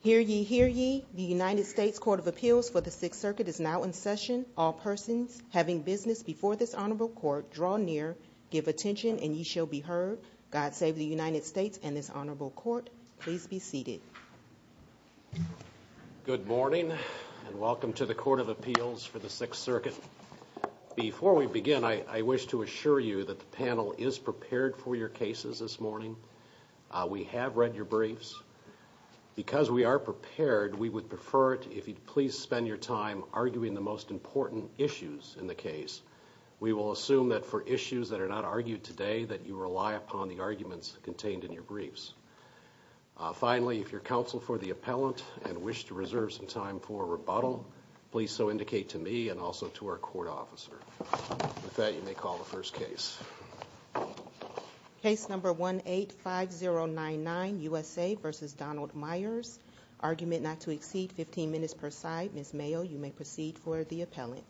Hear ye, hear ye, the United States Court of Appeals for the 6th Circuit is now in session. All persons having business before this honorable court, draw near, give attention, and ye shall be heard. God save the United States and this honorable court. Please be seated. Good morning and welcome to the Court of Appeals for the 6th Circuit. Before we begin, I wish to assure you that the panel is prepared for your cases this morning. We have read your briefs. Because we are prepared, we would prefer it if you'd please spend your time arguing the most important issues in the case. We will assume that for issues that are not argued today, that you rely upon the arguments contained in your briefs. Finally, if your counsel for the appellant and wish to reserve some time for rebuttal, please so indicate to me and also to our court officer. With that, you may call the first case. Case number 185099, USA v. Donald Myers. Argument not to exceed 15 minutes per side. Ms. Mayo, you may proceed for the appellant.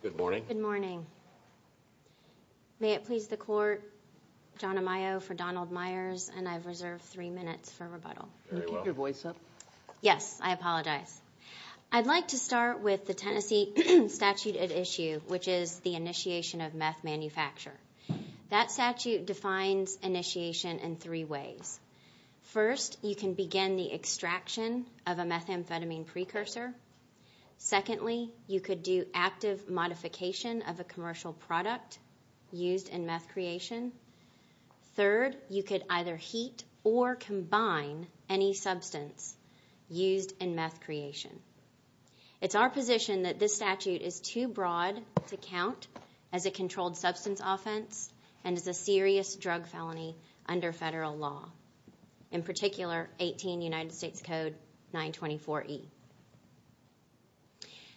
Good morning. Good morning. May it please the court, John Amayo for Donald Myers and I've reserved 3 minutes for rebuttal. Yes, I apologize. I'd like to start with the Tennessee statute at issue, which is the initiation of meth manufacture. That statute defines initiation in three ways. First, you can begin the extraction of a methamphetamine precursor. Secondly, you could do active modification of a commercial product used in meth creation. Third, you could either heat or combine any substance used in meth creation. It's our position that this statute is too broad to count as a controlled substance offense and as a serious drug felony under federal law. In particular, 18 United States Code 924E.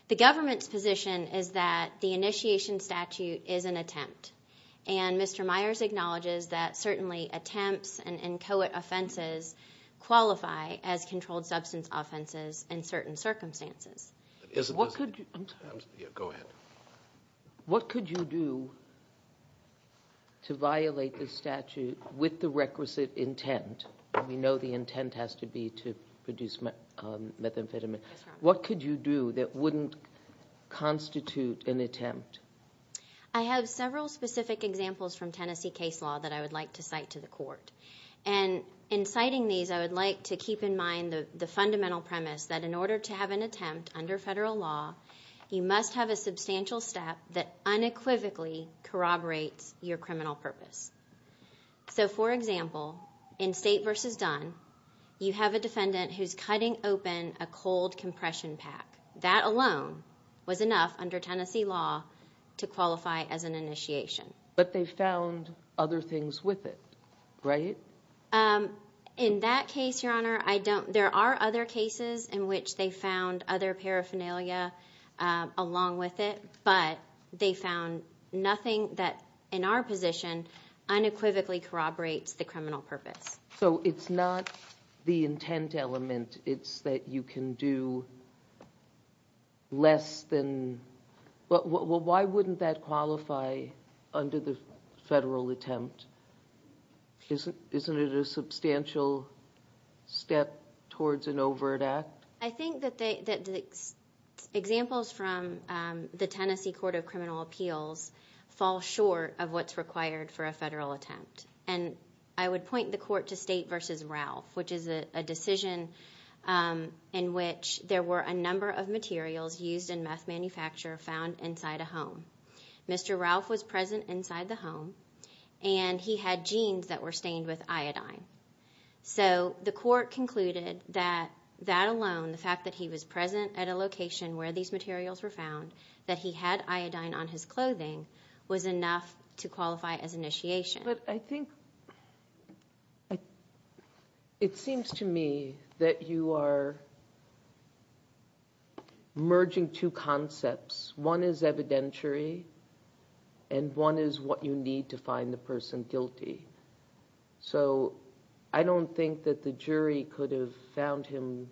The government's position is that the initiation statute is an attempt. And Mr. Myers acknowledges that certainly attempts and co-ed offenses qualify as controlled substance offenses in certain circumstances. Go ahead. What could you do to violate the statute with the requisite intent? We know the intent has to be to produce methamphetamine. What could you do that wouldn't constitute an attempt? I have several specific examples from Tennessee case law that I would like to cite to the court. And in citing these, I would like to keep in mind the fundamental premise that in order to have an attempt under federal law, you must have a substantial step that unequivocally corroborates your criminal purpose. So, for example, in State v. Dunn, you have a defendant who's cutting open a cold compression pack. That alone was enough under Tennessee law to qualify as an initiation. But they found other things with it, right? In that case, Your Honor, there are other cases in which they found other paraphernalia along with it. But they found nothing that, in our position, unequivocally corroborates the criminal purpose. So it's not the intent element. It's that you can do less than... Why wouldn't that qualify under the federal attempt? Isn't it a substantial step towards an overt act? I think that the examples from the Tennessee Court of Criminal Appeals fall short of what's required for a federal attempt. And I would point the Court to State v. Ralph, which is a decision in which there were a number of materials used in meth manufacture found inside a home. Mr. Ralph was present inside the home, and he had jeans that were stained with iodine. So the Court concluded that that alone, the fact that he was present at a location where these materials were found, that he had iodine on his clothing, was enough to qualify as initiation. But I think... It seems to me that you are merging two concepts. One is evidentiary, and one is what you need to find the person guilty. So I don't think that the jury could have found him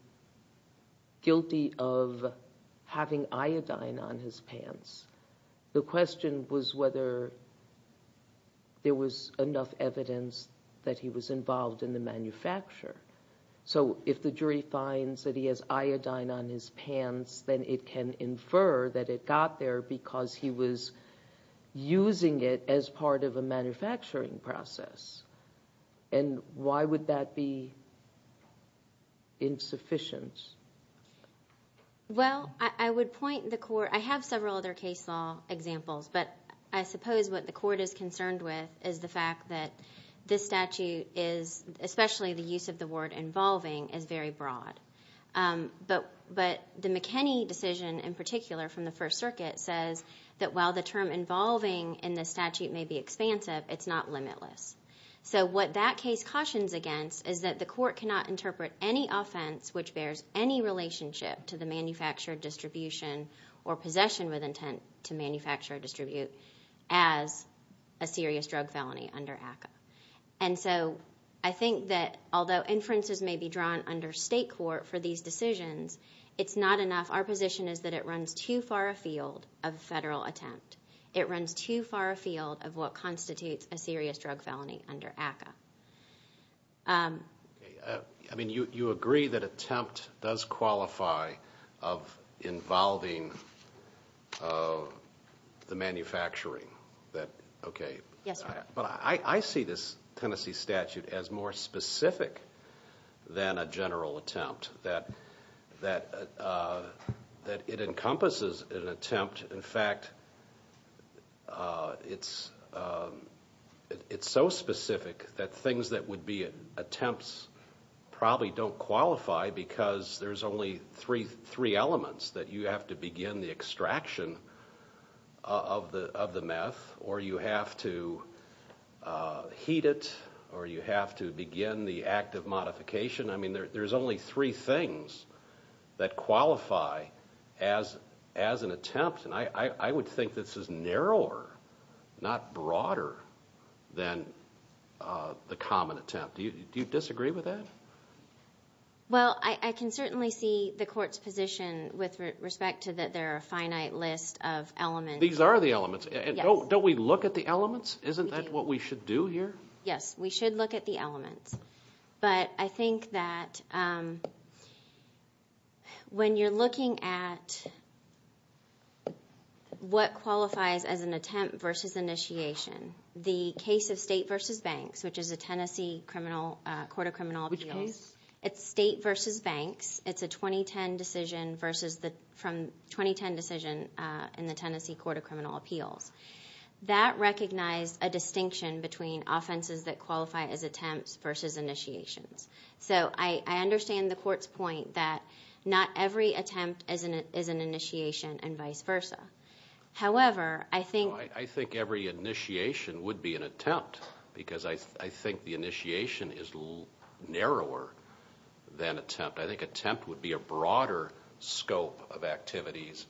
guilty of having iodine on his pants. The question was whether there was enough evidence that he was involved in the manufacture. So if the jury finds that he has iodine on his pants, then it can infer that it got there because he was using it as part of a manufacturing process. And why would that be insufficient? Well, I would point the Court... I have several other case law examples, but I suppose what the Court is concerned with is the fact that this statute is, especially the use of the word involving, is very broad. But the McKinney decision in particular from the First Circuit says that while the term involving in the statute may be expansive, it's not limitless. So what that case cautions against is that the Court cannot interpret any offense which bears any relationship to the manufactured distribution or possession with intent to manufacture or distribute as a serious drug felony under ACCA. And so I think that although inferences may be drawn under state court for these decisions, it's not enough. Our position is that it runs too far afield of a federal attempt. It runs too far afield of what constitutes a serious drug felony under ACCA. Okay. I mean, you agree that attempt does qualify of involving the manufacturing. Okay. Yes, sir. But I see this Tennessee statute as more specific than a general attempt, that it encompasses an attempt. In fact, it's so specific that things that would be attempts probably don't qualify because there's only three elements, that you have to begin the extraction of the meth, or you have to heat it, or you have to begin the act of modification. I mean, there's only three things that qualify as an attempt. And I would think this is narrower, not broader, than the common attempt. Do you disagree with that? Well, I can certainly see the Court's position with respect to that there are a finite list of elements. These are the elements. Yes. Don't we look at the elements? Isn't that what we should do here? Yes, we should look at the elements. But I think that when you're looking at what qualifies as an attempt versus initiation, the case of State v. Banks, which is a Tennessee Court of Criminal Appeals. Which case? It's State v. Banks. It's a 2010 decision in the Tennessee Court of Criminal Appeals. That recognized a distinction between offenses that qualify as attempts versus initiations. So I understand the Court's point that not every attempt is an initiation and vice versa. However, I think... Well, I think every initiation would be an attempt because I think the initiation is narrower than attempt. I think attempt would be a broader scope of activities.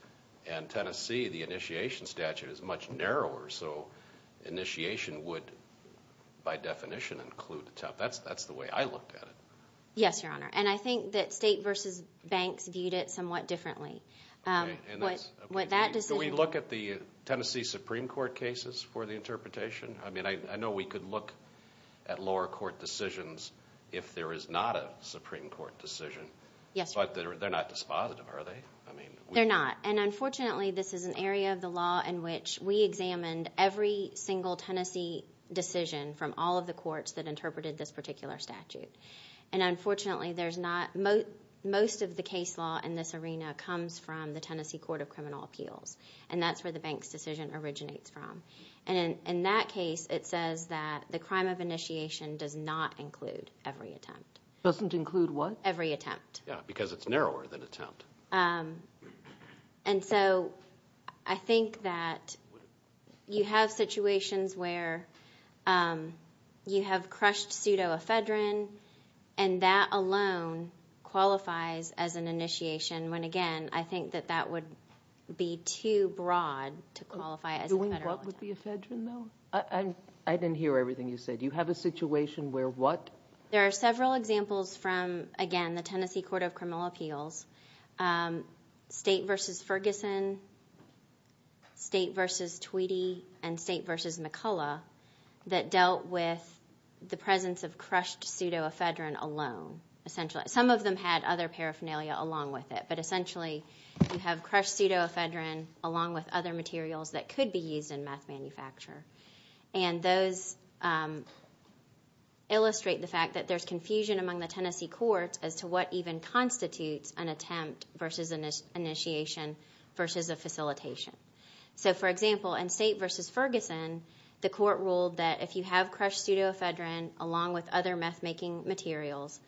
And Tennessee, the initiation statute is much narrower. So initiation would, by definition, include attempt. That's the way I look at it. Yes, Your Honor. And I think that State v. Banks viewed it somewhat differently. Okay. So we look at the Tennessee Supreme Court cases for the interpretation? I mean, I know we could look at lower court decisions if there is not a Supreme Court decision. Yes, Your Honor. But they're not dispositive, are they? They're not. And unfortunately, this is an area of the law in which we examined every single Tennessee decision from all of the courts that interpreted this particular statute. And unfortunately, most of the case law in this arena comes from the Tennessee Court of Criminal Appeals. And that's where the Banks decision originates from. And in that case, it says that the crime of initiation does not include every attempt. Doesn't include what? Every attempt. Yes, because it's narrower than attempt. And so I think that you have situations where you have crushed pseudo-ephedrine, and that alone qualifies as an initiation, when, again, I think that that would be too broad to qualify as an ephedrine. Doing what would be ephedrine, though? I didn't hear everything you said. You have a situation where what? There are several examples from, again, the Tennessee Court of Criminal Appeals, State v. Ferguson, State v. Tweedy, and State v. McCullough, that dealt with the presence of crushed pseudo-ephedrine alone. Some of them had other paraphernalia along with it, but essentially you have crushed pseudo-ephedrine along with other materials that could be used in meth manufacture. And those illustrate the fact that there's confusion among the Tennessee courts as to what even constitutes an attempt versus an initiation versus a facilitation. So, for example, in State v. Ferguson, the court ruled that if you have crushed pseudo-ephedrine along with other meth-making materials,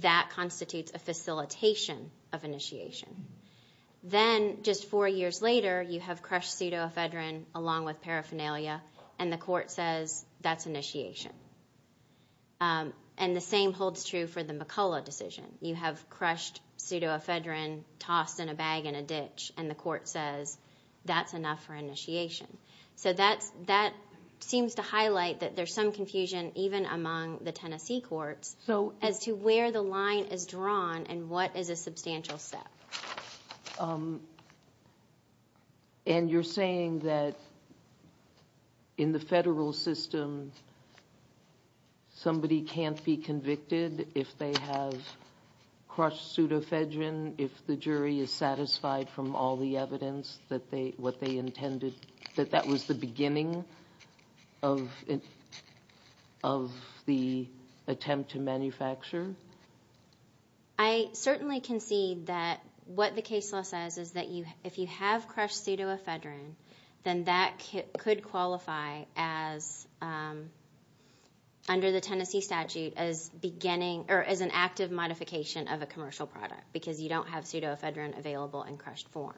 that constitutes a facilitation of initiation. Then, just four years later, you have crushed pseudo-ephedrine along with paraphernalia, and the court says that's initiation. And the same holds true for the McCullough decision. You have crushed pseudo-ephedrine tossed in a bag in a ditch, and the court says that's enough for initiation. So that seems to highlight that there's some confusion even among the Tennessee courts as to where the line is drawn and what is a substantial step. And you're saying that in the federal system, somebody can't be convicted if they have crushed pseudo-ephedrine, if the jury is satisfied from all the evidence, that that was the beginning of the attempt to manufacture? I certainly concede that what the case law says is that if you have crushed pseudo-ephedrine, then that could qualify as, under the Tennessee statute, as an active modification of a commercial product because you don't have pseudo-ephedrine available in crushed form.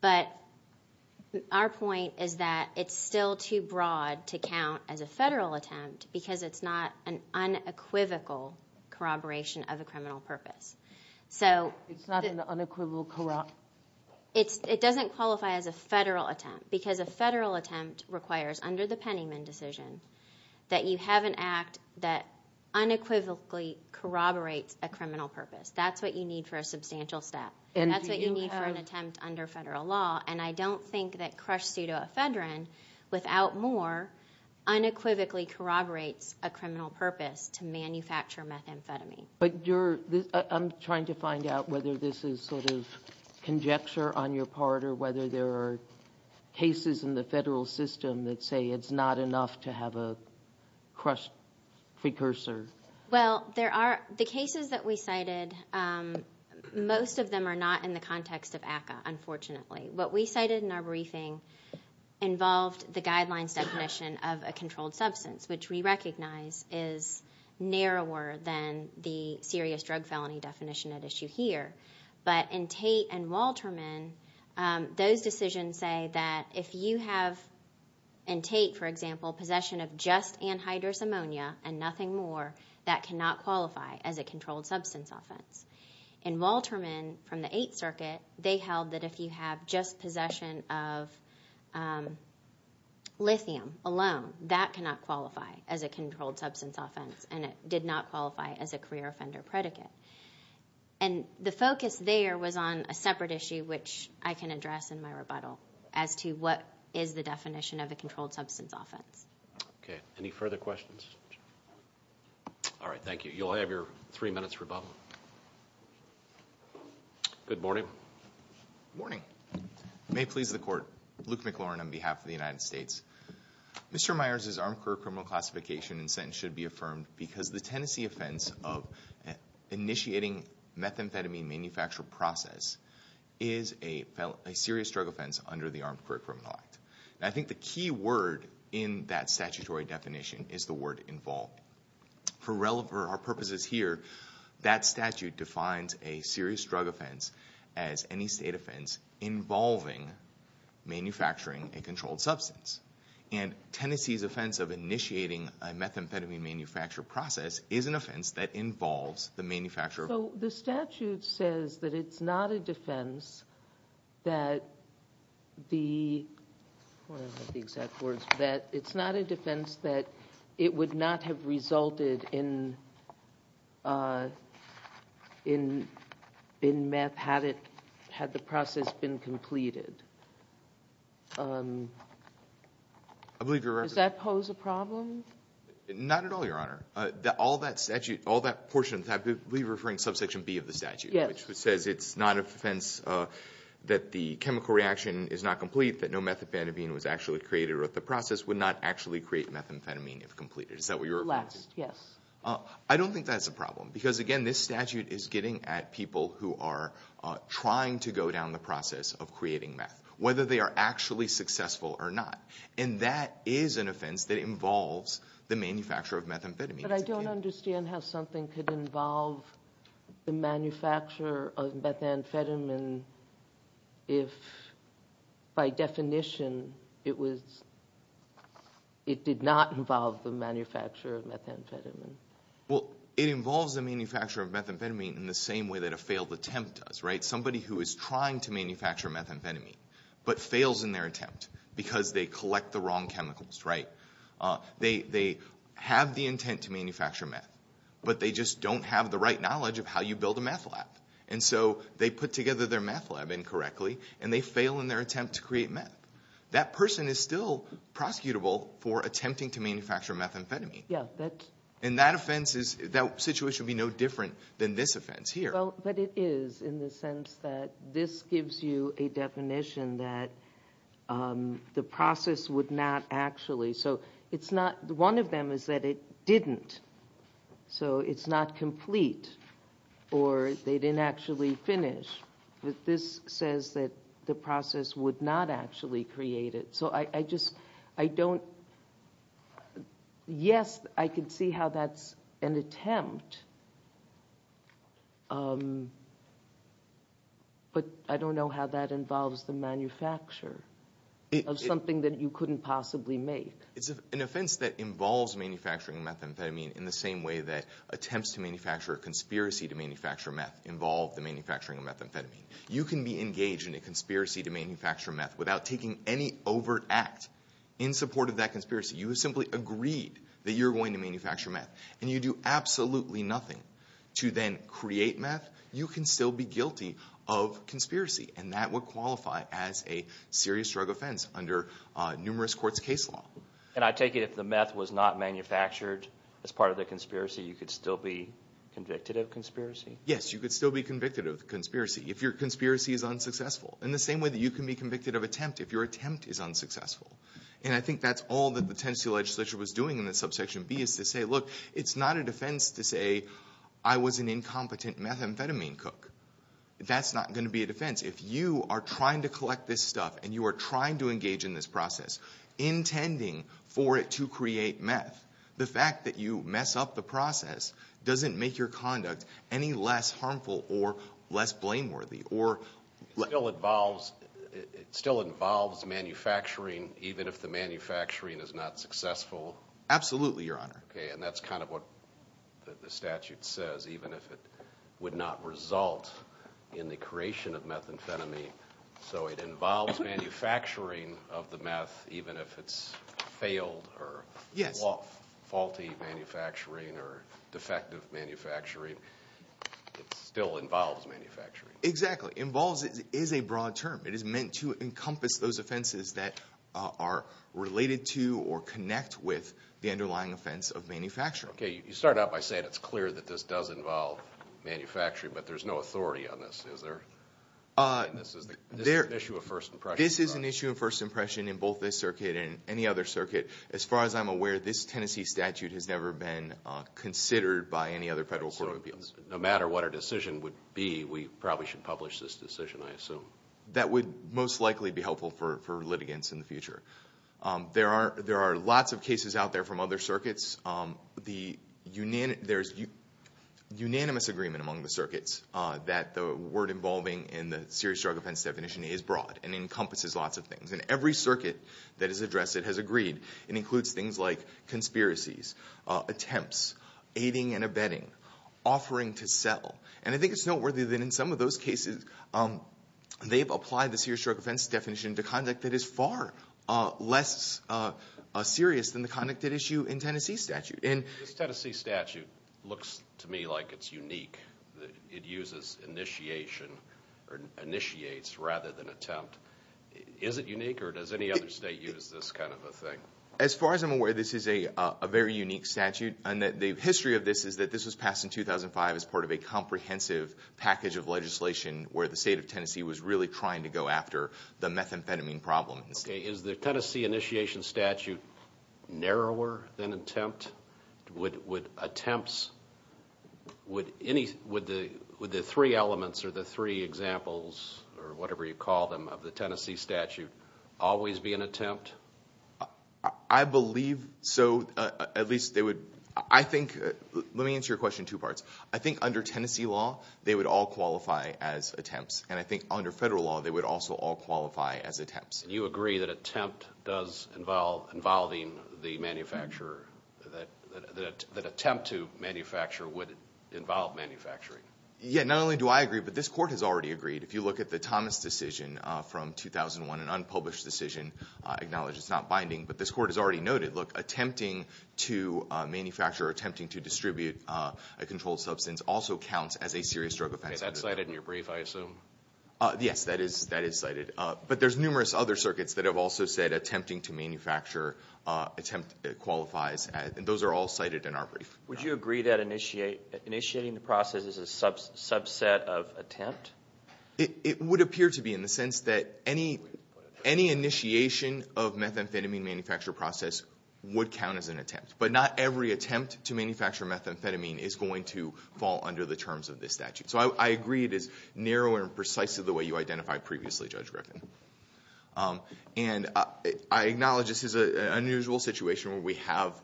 But our point is that it's still too broad to count as a federal attempt because it's not an unequivocal corroboration of a criminal purpose. It's not an unequivocal corroboration? It doesn't qualify as a federal attempt because a federal attempt requires, under the Pennyman decision, that you have an act that unequivocally corroborates a criminal purpose. That's what you need for a substantial step. That's what you need for an attempt under federal law. And I don't think that crushed pseudo-ephedrine, without more, unequivocally corroborates a criminal purpose to manufacture methamphetamine. But I'm trying to find out whether this is sort of conjecture on your part or whether there are cases in the federal system that say it's not enough to have a crushed precursor. Well, the cases that we cited, most of them are not in the context of ACCA, unfortunately. What we cited in our briefing involved the guidelines definition of a controlled substance, which we recognize is narrower than the serious drug felony definition at issue here. But in Tate and Walterman, those decisions say that if you have, in Tate, for example, possession of just anhydrous ammonia and nothing more, that cannot qualify as a controlled substance offense. In Walterman, from the Eighth Circuit, they held that if you have just possession of lithium alone, that cannot qualify as a controlled substance offense, and it did not qualify as a career offender predicate. And the focus there was on a separate issue, which I can address in my rebuttal, as to what is the definition of a controlled substance offense. Okay, any further questions? All right, thank you. You'll have your three minutes for bubble. Good morning. Good morning. May it please the Court. Luke McLaurin on behalf of the United States. Mr. Myers' armed career criminal classification and sentence should be affirmed because the Tennessee offense of initiating methamphetamine manufacture process is a serious drug offense under the Armed Career Criminal Act. And I think the key word in that statutory definition is the word involved. For our purposes here, that statute defines a serious drug offense as any state offense involving manufacturing a controlled substance. And Tennessee's offense of initiating a methamphetamine manufacture process is an offense that involves the manufacture of a controlled substance. So the statute says that it's not a defense that it would not have resulted in meth had the process been completed. Does that pose a problem? Not at all, Your Honor. All that portion, I believe you're referring to subsection B of the statute. Yes. Which says it's not a defense that the chemical reaction is not complete, that no methamphetamine was actually created, or that the process would not actually create methamphetamine if completed. Is that what you're referring to? Last, yes. I don't think that's a problem. Because, again, this statute is getting at people who are trying to go down the process of creating meth, whether they are actually successful or not. And that is an offense that involves the manufacture of methamphetamine. But I don't understand how something could involve the manufacture of methamphetamine if, by definition, it did not involve the manufacture of methamphetamine. Well, it involves the manufacture of methamphetamine in the same way that a failed attempt does, right? Somebody who is trying to manufacture methamphetamine, but fails in their attempt because they collect the wrong chemicals, right? They have the intent to manufacture meth, but they just don't have the right knowledge of how you build a meth lab. And so they put together their meth lab incorrectly, and they fail in their attempt to create meth. That person is still prosecutable for attempting to manufacture methamphetamine. Yeah. And that situation would be no different than this offense here. But it is, in the sense that this gives you a definition that the process would not actually. So one of them is that it didn't. So it's not complete, or they didn't actually finish. But this says that the process would not actually create it. So I just, I don't, yes, I can see how that's an attempt. But I don't know how that involves the manufacture of something that you couldn't possibly make. It's an offense that involves manufacturing methamphetamine in the same way that attempts to manufacture a conspiracy to manufacture meth involve the manufacturing of methamphetamine. You can be engaged in a conspiracy to manufacture meth without taking any overt act in support of that conspiracy. You have simply agreed that you're going to manufacture meth, and you do absolutely nothing to then create meth. You can still be guilty of conspiracy, and that would qualify as a serious drug offense under numerous courts' case law. And I take it if the meth was not manufactured as part of the conspiracy, you could still be convicted of conspiracy? Yes, you could still be convicted of conspiracy if your conspiracy is unsuccessful. In the same way that you can be convicted of attempt if your attempt is unsuccessful. And I think that's all that the Tennessee legislature was doing in the subsection B, is to say, look, it's not a defense to say I was an incompetent methamphetamine cook. That's not going to be a defense. If you are trying to collect this stuff, and you are trying to engage in this process, intending for it to create meth, the fact that you mess up the process doesn't make your conduct any less harmful or less blameworthy. It still involves manufacturing even if the manufacturing is not successful? Absolutely, Your Honor. Okay, and that's kind of what the statute says, even if it would not result in the creation of methamphetamine. So it involves manufacturing of the meth even if it's failed or faulty manufacturing or defective manufacturing. It still involves manufacturing. Exactly. Involves is a broad term. It is meant to encompass those offenses that are related to or connect with the underlying offense of manufacturing. Okay, you start out by saying it's clear that this does involve manufacturing, but there's no authority on this. Is there? This is an issue of first impression, Your Honor. This is an issue of first impression in both this circuit and any other circuit. As far as I'm aware, this Tennessee statute has never been considered by any other federal court of appeals. No matter what our decision would be, we probably should publish this decision, I assume. That would most likely be helpful for litigants in the future. There are lots of cases out there from other circuits. There's unanimous agreement among the circuits that the word involving in the serious drug offense definition is broad and encompasses lots of things. And every circuit that has addressed it has agreed. It includes things like conspiracies, attempts, aiding and abetting, offering to sell. And I think it's noteworthy that in some of those cases they've applied the serious drug offense definition to conduct that is far less serious than the conduct at issue in Tennessee statute. This Tennessee statute looks to me like it's unique. It uses initiation or initiates rather than attempt. Is it unique or does any other state use this kind of a thing? As far as I'm aware, this is a very unique statute. And the history of this is that this was passed in 2005 as part of a comprehensive package of legislation where the state of Tennessee was really trying to go after the methamphetamine problem. Okay. Is the Tennessee initiation statute narrower than attempt? Would attempts, would the three elements or the three examples or whatever you call them of the Tennessee statute always be an attempt? I believe so. At least they would. I think, let me answer your question in two parts. I think under Tennessee law they would all qualify as attempts. And I think under federal law they would also all qualify as attempts. And you agree that attempt does involve, involving the manufacturer, that attempt to manufacture would involve manufacturing? Yeah, not only do I agree, but this court has already agreed. If you look at the Thomas decision from 2001, an unpublished decision, acknowledge it's not binding, but this court has already noted, look, attempting to manufacture or attempting to distribute a controlled substance also counts as a serious drug offense. Is that cited in your brief, I assume? Yes, that is cited. But there's numerous other circuits that have also said attempting to manufacture, attempt qualifies. And those are all cited in our brief. Would you agree that initiating the process is a subset of attempt? It would appear to be in the sense that any initiation of methamphetamine manufacture process would count as an attempt. But not every attempt to manufacture methamphetamine is going to fall under the terms of this statute. So I agree it is narrow and precise in the way you identified previously, Judge Griffin. And I acknowledge this is an unusual situation where we have,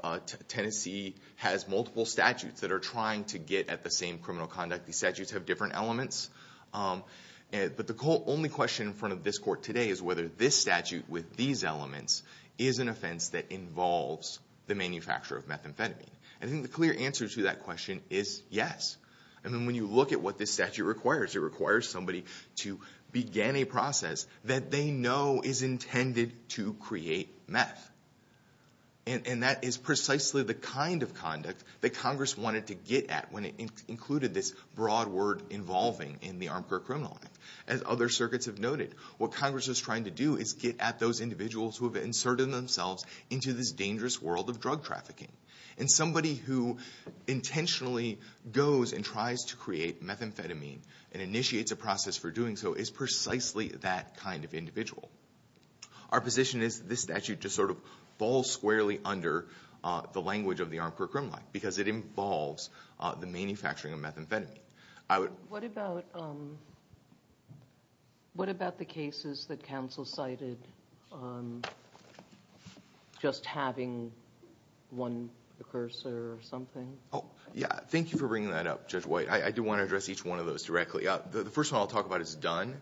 Tennessee has multiple statutes that are trying to get at the same criminal conduct. These statutes have different elements. But the only question in front of this court today is whether this statute with these elements is an offense that involves the manufacture of methamphetamine. I think the clear answer to that question is yes. I mean, when you look at what this statute requires, it requires somebody to begin a process that they know is intended to create meth. And that is precisely the kind of conduct that Congress wanted to get at when it included this broad word involving in the Armed Court Criminal Act. As other circuits have noted, what Congress is trying to do is get at those individuals who have inserted themselves into this dangerous world of drug trafficking. And somebody who intentionally goes and tries to create methamphetamine and initiates a process for doing so is precisely that kind of individual. Our position is this statute just sort of falls squarely under the language of the Armed Court Criminal Act because it involves the manufacturing of methamphetamine. What about the cases that counsel cited just having one precursor or something? Thank you for bringing that up, Judge White. I do want to address each one of those directly. The first one I'll talk about is Dunn.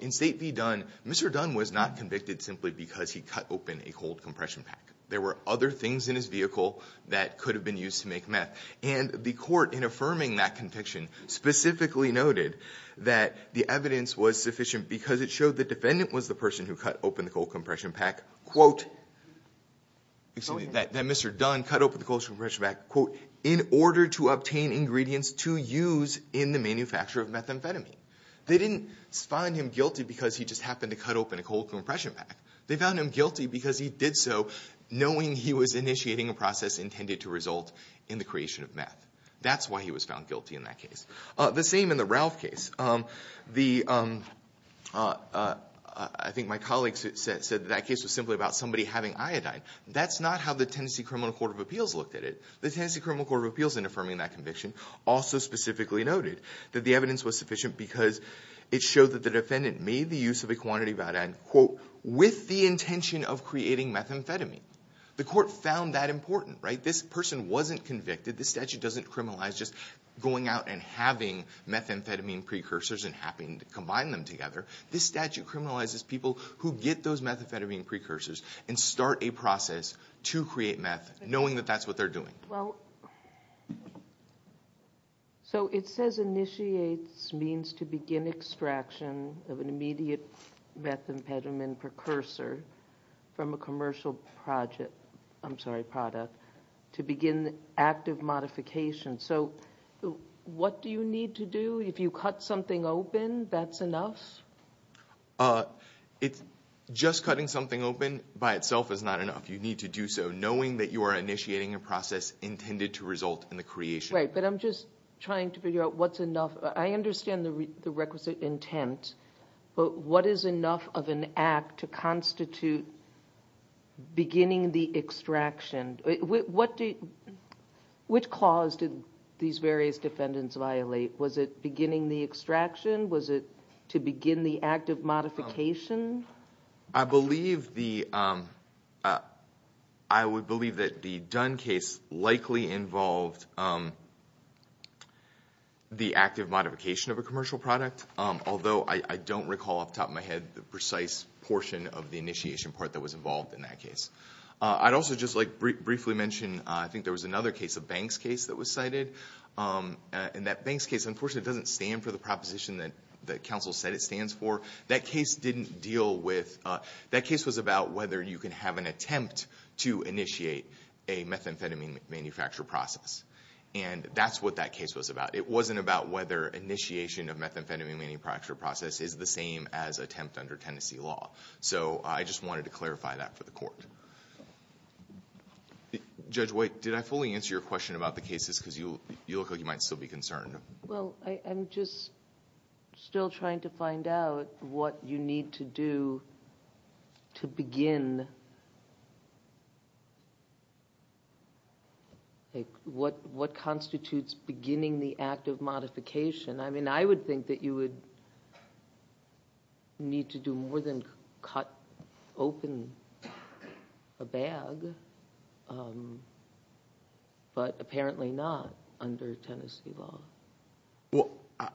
In State v. Dunn, Mr. Dunn was not convicted simply because he cut open a cold compression pack. There were other things in his vehicle that could have been used to make meth. And the Court, in affirming that conviction, specifically noted that the evidence was sufficient because it showed the defendant was the person who cut open the cold compression pack, quote, excuse me, that Mr. Dunn cut open the cold compression pack, quote, in order to obtain ingredients to use in the manufacture of methamphetamine. They didn't find him guilty because he just happened to cut open a cold compression pack. They found him guilty because he did so knowing he was initiating a process intended to result in the creation of meth. That's why he was found guilty in that case. The same in the Ralph case. I think my colleague said that case was simply about somebody having iodine. That's not how the Tennessee Criminal Court of Appeals looked at it. The Tennessee Criminal Court of Appeals, in affirming that conviction, also specifically noted that the evidence was sufficient because it showed that the defendant made the use of a quantity with the intention of creating methamphetamine. The Court found that important, right? This person wasn't convicted. This statute doesn't criminalize just going out and having methamphetamine precursors and having to combine them together. This statute criminalizes people who get those methamphetamine precursors and start a process to create meth, knowing that that's what they're doing. Well, so it says initiates means to begin extraction of an immediate methamphetamine precursor from a commercial product to begin active modification. So what do you need to do? If you cut something open, that's enough? Just cutting something open by itself is not enough. You need to do so. Knowing that you are initiating a process intended to result in the creation. Right, but I'm just trying to figure out what's enough. I understand the requisite intent, but what is enough of an act to constitute beginning the extraction? Which clause did these various defendants violate? Was it beginning the extraction? Was it to begin the active modification? I would believe that the Dunn case likely involved the active modification of a commercial product, although I don't recall off the top of my head the precise portion of the initiation part that was involved in that case. I'd also just briefly mention I think there was another case, a Banks case, that was cited. And that Banks case, unfortunately, doesn't stand for the proposition that counsel said it stands for. That case was about whether you can have an attempt to initiate a methamphetamine manufacture process. And that's what that case was about. It wasn't about whether initiation of methamphetamine manufacture process is the same as attempt under Tennessee law. So I just wanted to clarify that for the Court. Judge White, did I fully answer your question about the cases? Because you look like you might still be concerned. Well, I'm just still trying to find out what you need to do to begin. What constitutes beginning the active modification? I mean, I would think that you would need to do more than cut open a bag, but apparently not under Tennessee law. Well,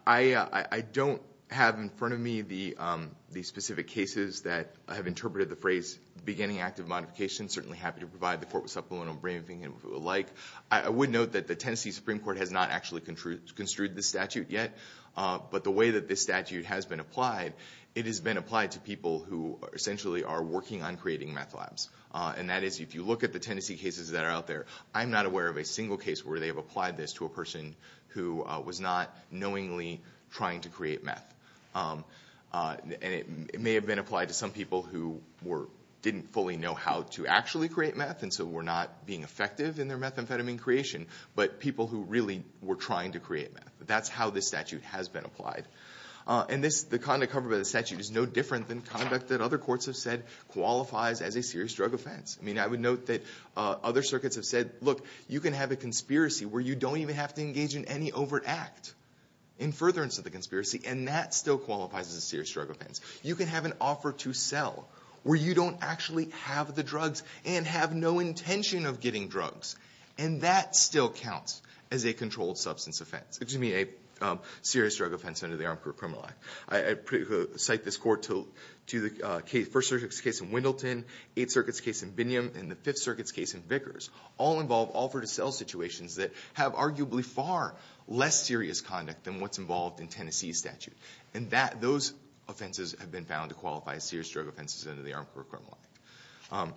I don't have in front of me the specific cases that have interpreted the phrase beginning active modification. Certainly happy to provide the Court with supplemental briefing if it would like. I would note that the Tennessee Supreme Court has not actually construed the statute yet. But the way that this statute has been applied, it has been applied to people who essentially are working on creating meth labs. And that is, if you look at the Tennessee cases that are out there, I'm not aware of a single case where they have applied this to a person who was not knowingly trying to create meth. And it may have been applied to some people who didn't fully know how to actually create meth, and so were not being effective in their methamphetamine creation. But people who really were trying to create meth. That's how this statute has been applied. And the conduct covered by the statute is no different than conduct that other courts have said qualifies as a serious drug offense. I mean, I would note that other circuits have said, look, you can have a conspiracy where you don't even have to engage in any overt act in furtherance of the conspiracy. And that still qualifies as a serious drug offense. You can have an offer to sell where you don't actually have the drugs and have no intention of getting drugs. And that still counts as a controlled substance offense, excuse me, a serious drug offense under the Armed Career Criminal Act. I cite this court to the first circuit's case in Wendleton, Eighth Circuit's case in Binyam, and the Fifth Circuit's case in Vickers. All involve offer to sell situations that have arguably far less serious conduct than what's involved in Tennessee's statute. And those offenses have been found to qualify as serious drug offenses under the Armed Career Criminal Act.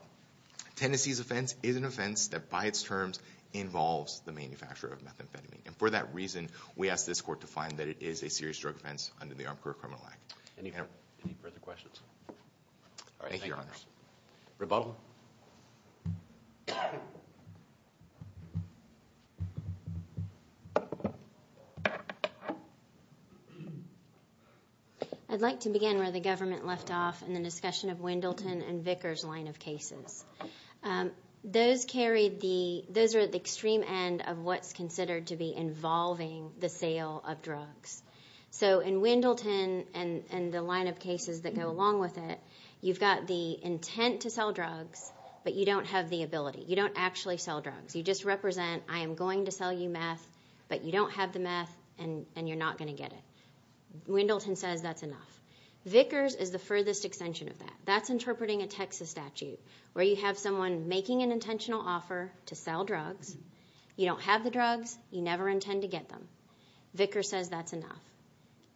Tennessee's offense is an offense that by its terms involves the manufacture of methamphetamine. And for that reason, we ask this court to find that it is a serious drug offense under the Armed Career Criminal Act. Thank you, Your Honors. Rebuttal. I'd like to begin where the government left off in the discussion of Wendleton and Vickers line of cases. Those carried the, those are at the extreme end of what's considered to be involving the sale of drugs. So in Wendleton and the line of cases that go along with it, you've got the intent to sell drugs, but you don't have the ability. You don't actually sell drugs. You just represent I am going to sell you meth, but you don't have the meth and you're not going to get it. Wendleton says that's enough. Vickers is the furthest extension of that. That's interpreting a Texas statute where you have someone making an intentional offer to sell drugs. You don't have the drugs. You never intend to get them. Vickers says that's enough.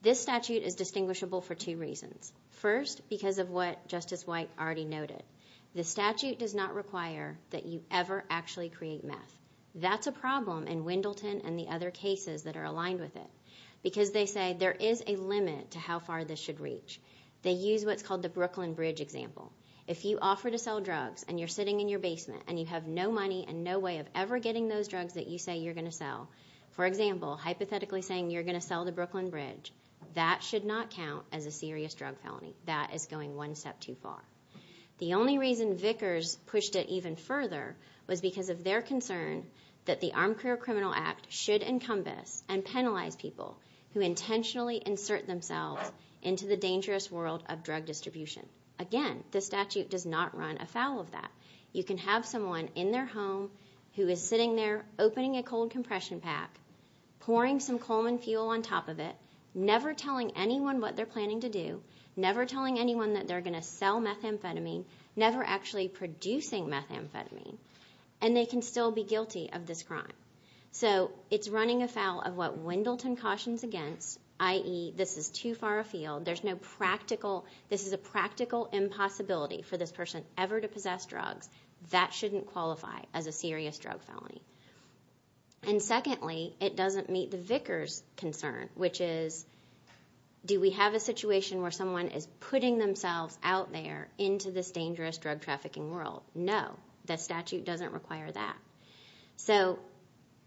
This statute is distinguishable for two reasons. First, because of what Justice White already noted. The statute does not require that you ever actually create meth. That's a problem in Wendleton and the other cases that are aligned with it because they say there is a limit to how far this should reach. They use what's called the Brooklyn Bridge example. If you offer to sell drugs and you're sitting in your basement and you have no money and no way of ever getting those drugs that you say you're going to sell. For example, hypothetically saying you're going to sell the Brooklyn Bridge, that should not count as a serious drug felony. That is going one step too far. The only reason Vickers pushed it even further was because of their concern that the Armed Career Criminal Act should encompass and penalize people who intentionally insert themselves into the dangerous world of drug distribution. Again, this statute does not run afoul of that. You can have someone in their home who is sitting there opening a cold compression pack, pouring some Coleman fuel on top of it, never telling anyone what they're planning to do, never telling anyone that they're going to sell methamphetamine, never actually producing methamphetamine, and they can still be guilty of this crime. So it's running afoul of what Wendleton cautions against, i.e., this is too far afield. There's no practical – this is a practical impossibility for this person ever to possess drugs. That shouldn't qualify as a serious drug felony. And secondly, it doesn't meet the Vickers concern, which is do we have a situation where someone is putting themselves out there into this dangerous drug trafficking world? No, the statute doesn't require that. So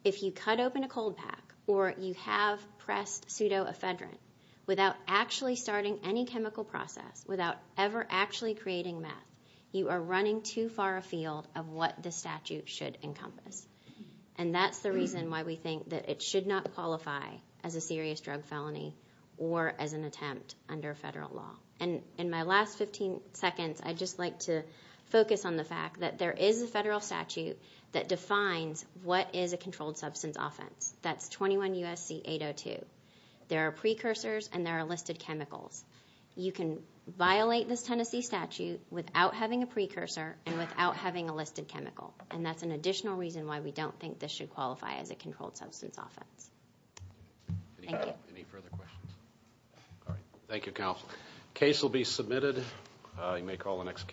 if you cut open a cold pack or you have pressed pseudoephedrine without actually starting any chemical process, without ever actually creating meth, you are running too far afield of what the statute should encompass. And that's the reason why we think that it should not qualify as a serious drug felony or as an attempt under federal law. And in my last 15 seconds, I'd just like to focus on the fact that there is a federal statute that defines what is a controlled substance offense. That's 21 U.S.C. 802. There are precursors and there are listed chemicals. You can violate this Tennessee statute without having a precursor and without having a listed chemical, and that's an additional reason why we don't think this should qualify as a controlled substance offense. Thank you. Any further questions? All right. Thank you, counsel. Case will be submitted. You may call the next case.